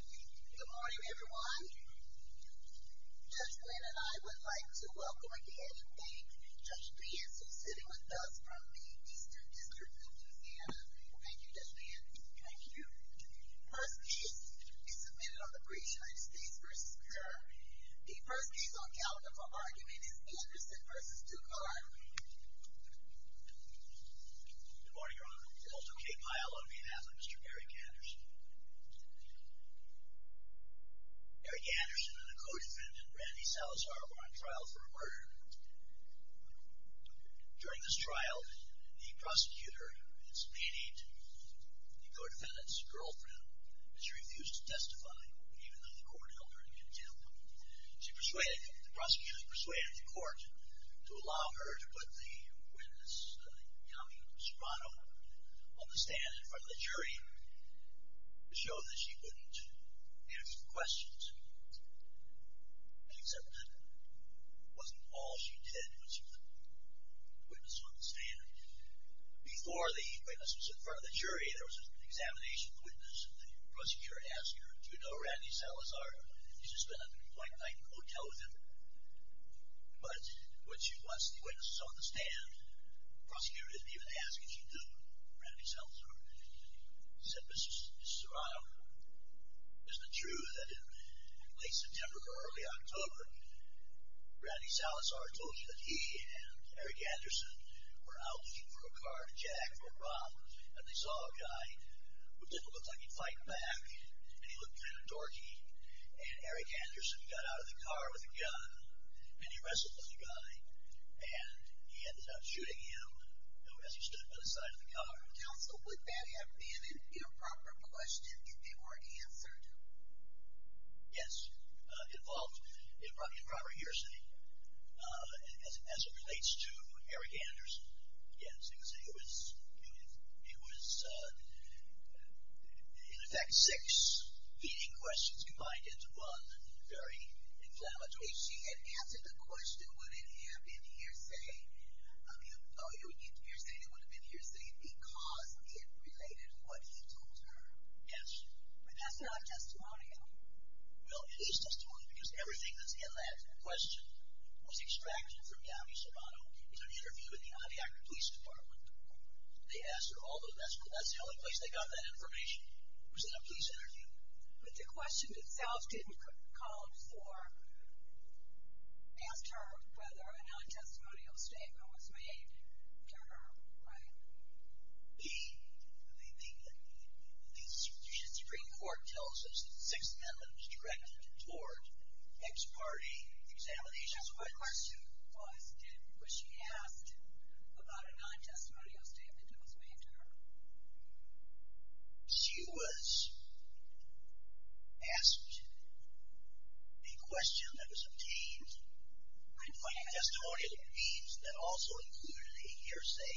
Good morning everyone. Judge Lynn and I would like to welcome again and thank Judge Bantz for sitting with us from the Eastern District of Louisiana. Thank you Judge Bantz. Thank you. The first case is submitted on the breach of United States v. Kerr. The first case on calendar for argument is Anderson v. Ducart. Good morning Your Honor. I would also like to pay my honor to be an avid Mr. Eric Anderson. Eric Anderson and a co-defendant, Randy Salazar, were on trial for a murder. During this trial, the prosecutor explained to the co-defendant's girlfriend that she refused to testify, even though the court held her in contempt. The prosecutor persuaded the court to allow her to put the witness, a young woman from Toronto, on the stand in front of the jury to show that she wouldn't ask questions. Except that wasn't all she did when she put the witness on the stand. Before the witness was in front of the jury, there was an examination of the witness, and the prosecutor asked her, Do you know Randy Salazar? He's just been on a blank night in a hotel with him. But when she put the witness on the stand, the prosecutor didn't even ask if she knew Randy Salazar. He said, Mr. Serrano, isn't it true that in late September or early October, Randy Salazar told you that he and Eric Anderson were out looking for a car to jack for a bomb, and they saw a guy who didn't look like he'd fight back, and he looked kind of dorky, and Eric Anderson got out of the car with a gun, and he wrestled with the guy, and he ended up shooting him as he stood by the side of the car. Counsel, would that have been an improper question, if it were answered? Yes, it involved improper hearsay. As it relates to Eric Anderson, yes, it was in effect six leading questions combined into one very inflammatory one. If she had answered the question, would it have been hearsay? It would have been hearsay because it related to what he told her. Yes, but that's not a testimonial. Well, it is testimony because everything that's in that question was extracted from Yami Serrano in an interview with the Onondaga Police Department. They asked her all those questions. That's the only place they got that information, was in a police interview. But the question itself didn't call for, asked her whether a non-testimonial statement was made to her, right? The Supreme Court tells us that six members directed toward ex parte examination. So my question was, was she asked about a non-testimonial statement that was made to her? She was asked a question that was obtained when finding testimonial that means that also included a hearsay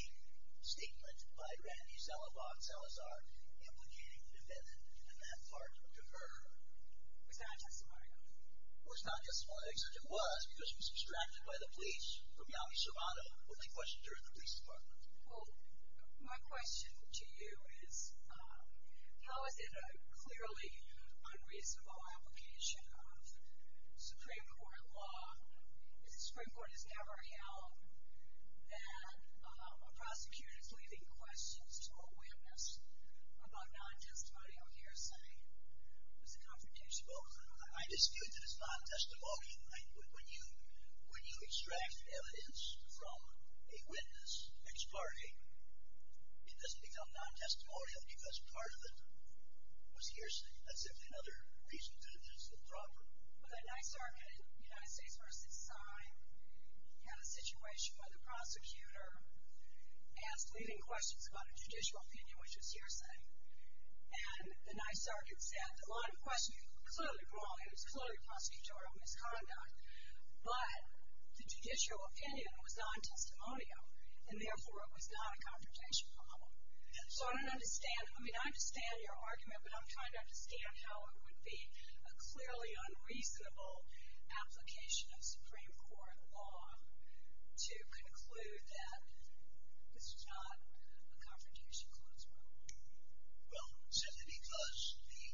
statement by Randy Zalabak Salazar implicating the defendant in that part to her. It was not a testimonial. It was not a testimonial. It was because it was extracted by the police from Yami Serrano when they questioned her at the police department. Well, my question to you is, how is it a clearly unreasonable application of Supreme Court law? The Supreme Court has never held that a prosecutor is leaving questions to a witness about non-testimonial hearsay. It's a confrontation. Well, I dispute that it's not a testimony. When you extract evidence from a witness, ex parte, it doesn't become non-testimonial because part of it was hearsay. That's simply another reason that it is a problem. Well, the Ninth Circuit, United States v. Syme, had a situation where the prosecutor asked leaving questions about a judicial opinion, which was hearsay, and the Ninth Circuit said that a lot of questions, clearly wrong, it was clearly prosecutorial misconduct, but the judicial opinion was non-testimonial, and therefore it was not a confrontation problem. So I don't understand. I mean, I understand your argument, but I'm trying to understand how it would be a clearly unreasonable application of Supreme Court law to conclude that this was not a confrontation clause problem. Well, simply because the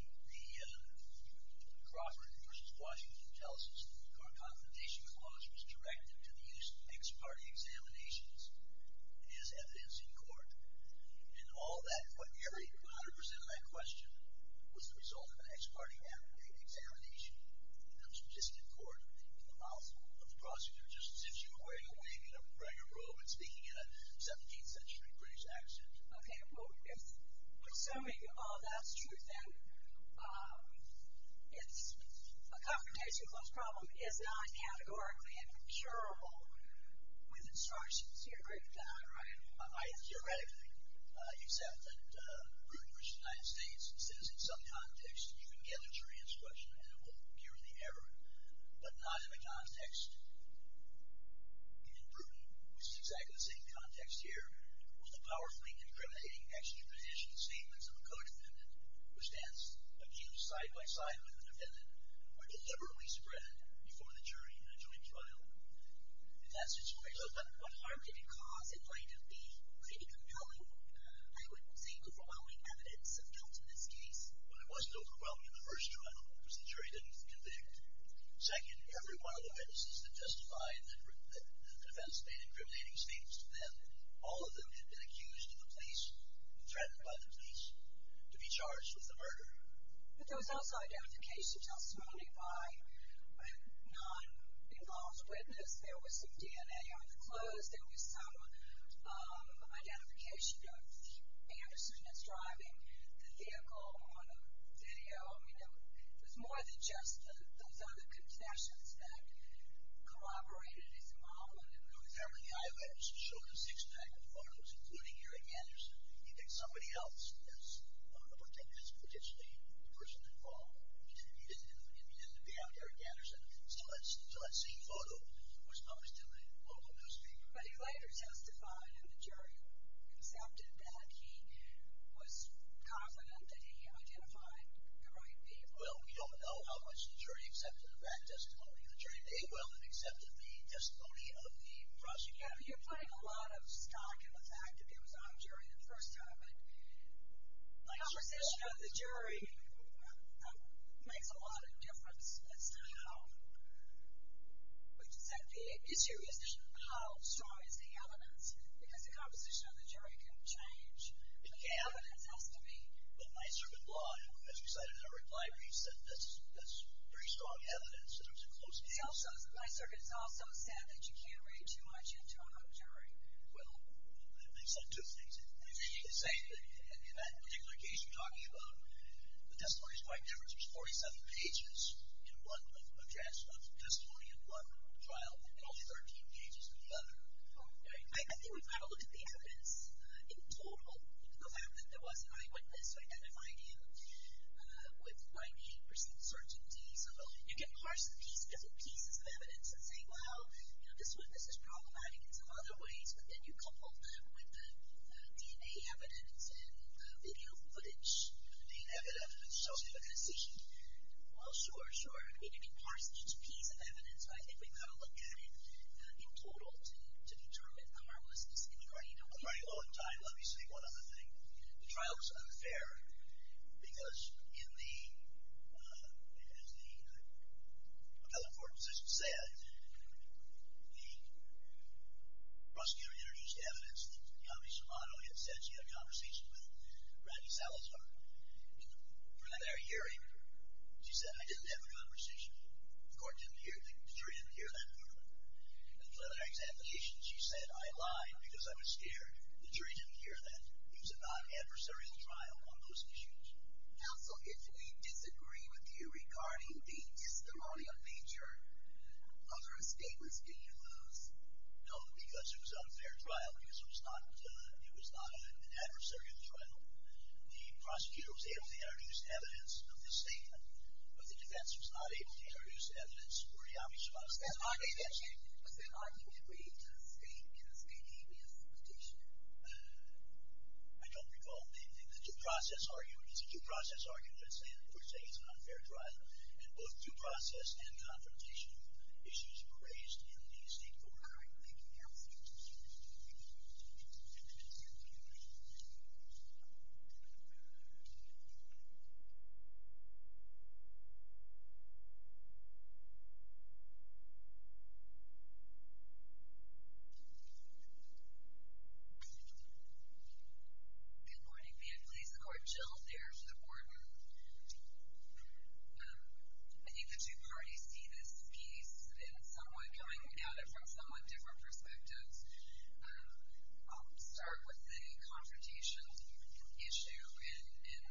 Crawford v. Washington tells us that our confrontation clause was directed to the use of ex parte examinations as evidence in court, and all that, every hundred percent of that question was the result of an ex parte examination in a statistical court with the mouthful of the prosecutor, just as if she were wearing a wig and wearing a robe and speaking in a 17th century British accent. Okay, well, assuming all that's true, then, it's a confrontation clause problem is not categorically and procurable with instructions. You're a great guy, right? I hear everything, except that Bruton v. United States says in some context you can get a true answer to a question and it won't appear in the error, but not in the context. And in Bruton, which is exactly the same context here, was the powerfully incriminating extrajudicial statements of a co-defendant, which stands accused side-by-side with the defendant, were deliberately spread before the jury in a joint trial. And that's just what I said. But what harm did it cause in light of the opinion of the jury? I would say overwhelming evidence of guilt in this case. But it wasn't overwhelming in the first trial, because the jury didn't convict. Second, every one of the witnesses that testified that the defense made incriminating statements to them, all of them had been accused of the police, threatened by the police, to be charged with the murder. But there was also identification testimony by a non-involved witness. There was some DNA on the clothes. There was some identification of Anderson that's driving the vehicle on a video. There's more than just those other confessions that corroborated his involvement in the murder. Apparently the I.O.S. showed him six types of photos, including Eric Anderson. He thinks somebody else is a potentially person involved. He didn't know Eric Anderson. So that same photo was published in the local newspaper. But he later testified, and the jury accepted that. He was confident that he identified the right people. Well, we don't know how much the jury accepted of that testimony. The jury did well and accepted the testimony of the prosecutor. Yeah, but you're putting a lot of stock in the fact that it was our jury the first time. The composition of the jury makes a lot of difference as to how strong is the evidence. Because the composition of the jury can change. The evidence has to be. But Nyserkin's law, as you said in a reply piece, that's pretty strong evidence in terms of close evidence. Nyserkin's also said that you can't read too much into a jury. Well, they've said two things. They say that in that particular case you're talking about the testimony is quite different. There's 47 pages in one address of testimony in one trial, and only 13 pages in the other. I think we've got to look at the evidence in total. The fact that there was an eyewitness identifying him with 98 percent certainty. So you can parse the pieces of evidence and say, well, this witness is problematic in some other ways, but then you couple them with the DNA evidence and the video footage. The DNA evidence. Well, sure, sure. You can parse each piece of evidence, but I think we've got to look at it in total to determine the harmlessness in the jury. I'm running low on time. Let me say one other thing. The trial was unfair because in the, as the appellate court assistant said, the prosecutor introduced evidence. Naomi Shimano had said she had a conversation with Randy Salazar for their hearing. She said, I didn't have a conversation. The jury didn't hear that. And for their examination, she said, I lied because I was scared. The jury didn't hear that. It was a non-adversarial trial on those issues. Counsel, if we disagree with you regarding the hysteria feature, other statements did you lose? No, because it was an unfair trial because it was not an adversarial trial. The prosecutor was able to introduce evidence of the statement, Was that argument made to the state in a state habeas petition? I don't recall making the due process argument. It's a due process argument. I'm not saying that per se it's an unfair trial. And both due process and confrontation issues were raised in the state court. All right. Thank you, counsel. Good morning. May it please the Court. Jill Thayer to the board. I think the two parties see this piece in somewhat coming at it from somewhat different perspectives. I'll start with the confrontation issue. And,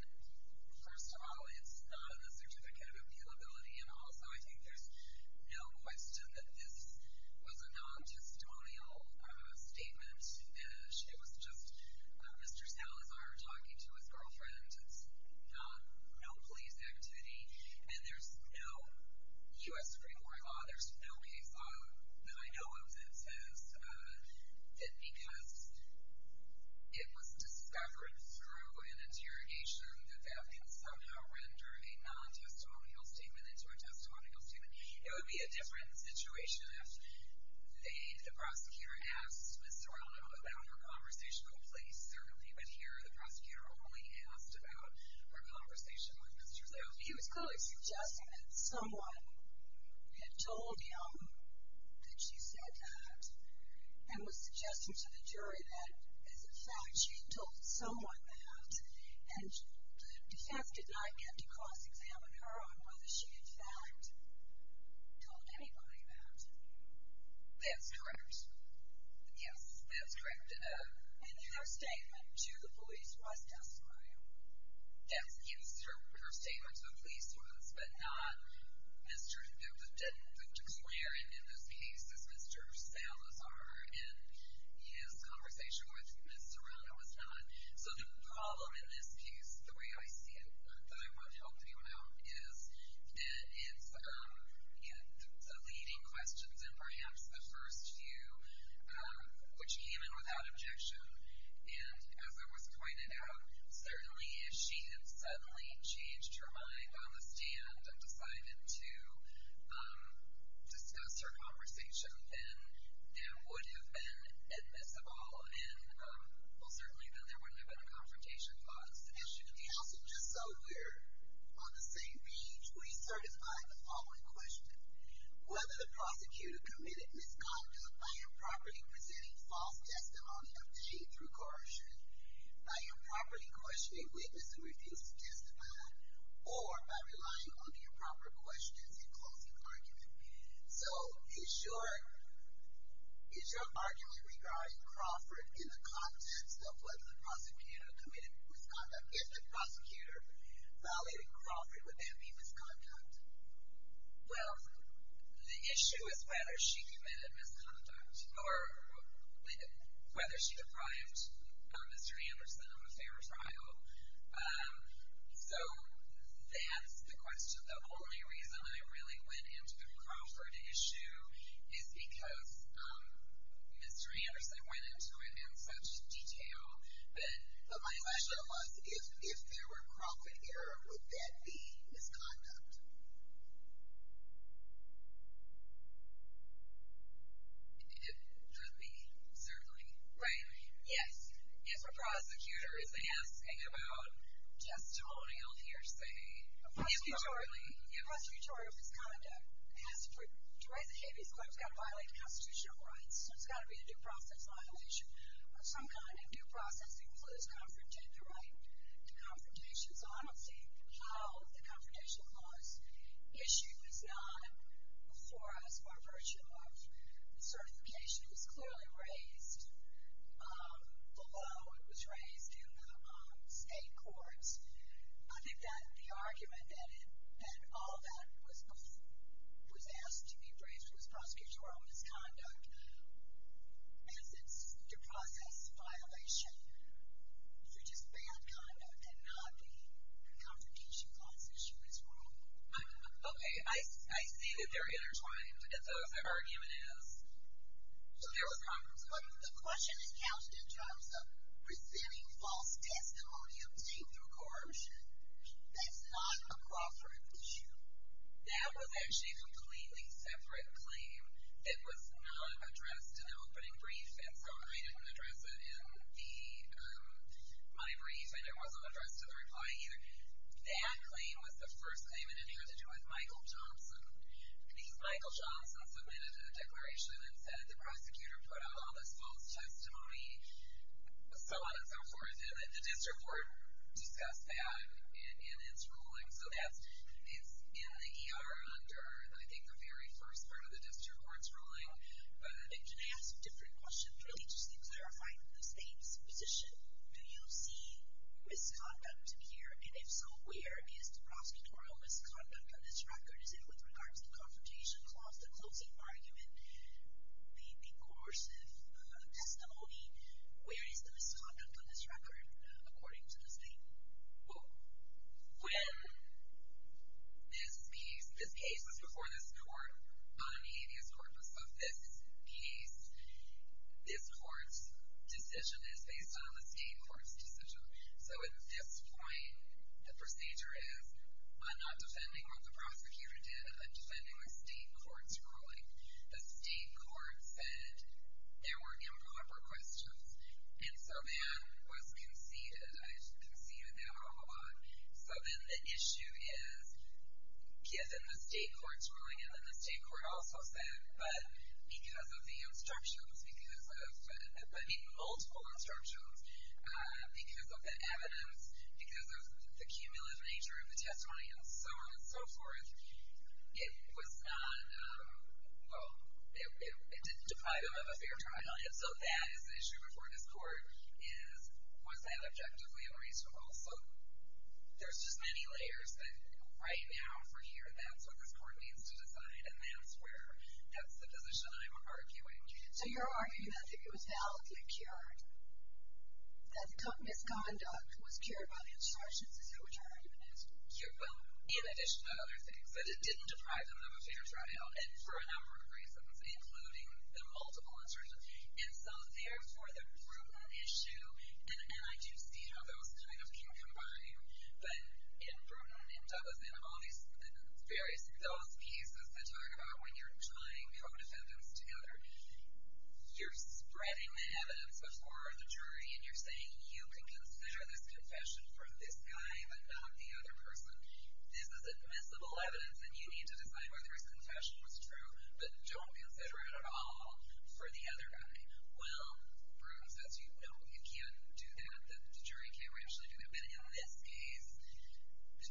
first of all, it's not in the Certificate of Appealability. And, also, I think there's no question that this was a non-testimonial statement. It was just Mr. Salazar talking to his girlfriend. It's no police activity. And there's no U.S. Supreme Court law. There's no case law that I know of that says that because it was discovered through an interrogation, that that could somehow render a non-testimonial statement into a testimonial statement. It would be a different situation if the prosecutor asked Ms. Zorla about her conversational place. Certainly, but here the prosecutor only asked about her conversation with Mr. Zorla. He was clearly suggesting that someone had told him that she said that and was suggesting to the jury that, as a fact, she told someone that. And the defense did not get to cross-examine her on whether she, in fact, told anybody that. That's correct. Yes, that's correct. And her statement to the police was desperate. Yes, her statement to the police was, but not Mr. Zorla didn't declare, and in this case it's Mr. Salazar and his conversation with Ms. Zorla was not. So the problem in this case, the way I see it, that I want to help you out, is that it's the leading questions and perhaps the first few which came in without objection. And as it was pointed out, certainly if she had suddenly changed her mind on the stand and decided to discuss her conversation, then that would have been admissible. And, well, certainly then there would have been a confrontation. But as should be counseled, just so we're on the same page, please certify the following question. Whether the prosecutor committed misconduct by improperly presenting false testimony obtained through coercion, by improperly questioning witnesses who refused to testify, or by relying on the improper questions in closing argument. So is your argument regarding Crawford in the context of whether the prosecutor committed misconduct? If the prosecutor violated Crawford, would that be misconduct? Well, the issue is whether she committed misconduct or whether she deprived Mr. Anderson of a fair trial. So that's the question. The only reason I really went into the Crawford issue is because Mr. Anderson went into it in such detail. But my question was, if there were Crawford here, would that be misconduct? It could be, certainly. Yes, if a prosecutor is asking about just holding a hearsay. The appropriate tutorial of his conduct has to be, to raise a habeas claim, it's got to violate constitutional rights. So it's got to be a due process violation of some kind. And due process includes confronting the right to confrontation. So I don't see how the confrontation clause issue is not, for us, our virtue of certification was clearly raised below. It was raised in the state courts. I think that the argument that all that was asked to be raised was prosecutorial misconduct. And since it's due process violation, you're just bad conduct and not the confrontation clause issue is wrong. Okay, I see that they're intertwined. That's what the argument is. So there was confrontation. The question is counted in terms of presenting false testimony of statehood or corruption. That's not a Crawford issue. That was actually a completely separate claim. It was not addressed in the opening brief, and so I didn't address it in my brief, and it wasn't addressed in the reply either. That claim was the first claim, and it had to do with Michael Johnson. The Michael Johnson submitted a declaration and said the prosecutor put out all this false testimony, so on and so forth. And then the district court discussed that in its ruling. So that's in the ER under, I think, the very first part of the district court's ruling. And then they asked a different question, religiously clarifying the state's position. Do you see misconduct here, and if so, where is the prosecutorial misconduct on this record? Is it with regards to the confrontation clause, the closing argument, the coercive testimony? Where is the misconduct on this record according to the state? Well, when this piece, this case was before this court, on the atheist corpus of this case, this court's decision is based on the state court's decision. So at this point, the procedure is I'm not defending what the prosecutor did. I'm defending a state court's ruling. The state court said there were improper questions, and so Van was conceded, I conceded there were a lot. So then the issue is, given the state court's ruling, and then the state court also said, but because of the instructions, because of, I mean, multiple instructions, because of the evidence, because of the cumulative nature of the testimony, and so on and so forth, it was not, well, it didn't deprive them of a fair trial. And so that is the issue before this court, is was that objectively unreasonable? So there's just many layers, but right now, for here, that's what this court needs to decide, and that's where, that's the position I'm arguing. So you're arguing that if it was validly cured, that the misconduct was cured by the instructions, is that what you're arguing? Well, in addition to other things, that it didn't deprive them of a fair trial, and for a number of reasons, including the multiple instructions. And so therefore, the Bruton issue, and I do see how those kind of can combine, but in Bruton and Dublin and all these various, those pieces that talk about when you're tying co-defendants together, you're spreading the evidence before the jury, and you're saying you can consider this confession from this guy, but not the other person. This is admissible evidence, and you need to decide whether his confession was true, but don't consider it at all for the other guy. Well, Bruton says, no, you can't do that. The jury can't actually do it. But in this case,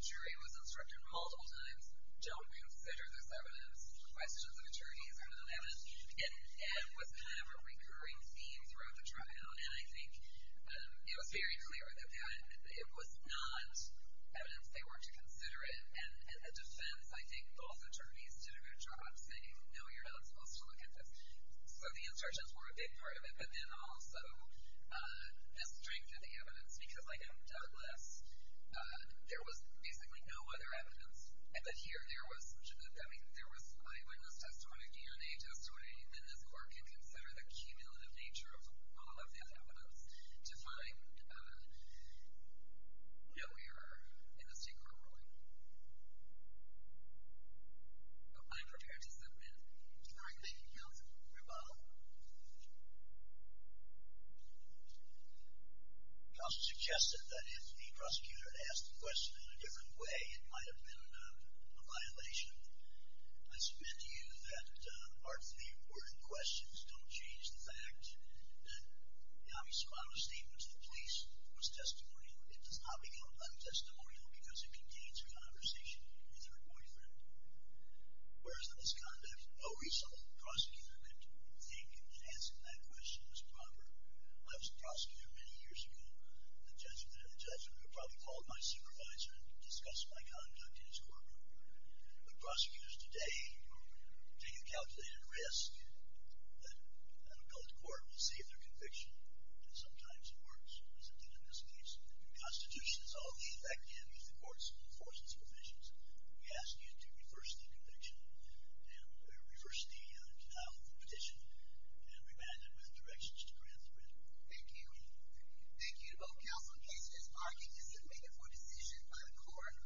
the jury was instructed multiple times, don't consider this evidence, the questions of the jury are not evidence. And that was kind of a recurring theme throughout the trial, and I think it was very clear that it was not evidence they were to consider, and the defense, I think, both attorneys did a good job saying, no, you're not supposed to look at this. So the instructions were a big part of it, but then also the strength of the evidence, because like in Douglas, there was basically no other evidence, but here there was eyewitness testimony, DNA testimony, and this court can consider the cumulative nature of all of the evidence to find no error in the state court ruling. I'm prepared to submit. All right. Thank you, counsel. Reba. Counsel suggested that if the prosecutor asked the question in a different way, it might have been a violation. I submit to you that our three important questions don't change the fact that Yami Somalo's statement to the police was testimonial. It does not become untestimonial because it contains a conversation with her boyfriend. Whereas in this conduct, no reasonable prosecutor would think that answering that question was proper. I was a prosecutor many years ago. The judge probably called my supervisor and discussed my conduct in his courtroom. But prosecutors today take a calculated risk. An appellate court will see if their conviction, and sometimes it works, as it did in this case. The Constitution is all we have. That can't be the court's enforcement provisions. We ask you to reverse the conviction and reverse the petition and remand it with directions to grant the written. Thank you. Thank you to both counsel and case. This argument is submitted for decision by the court.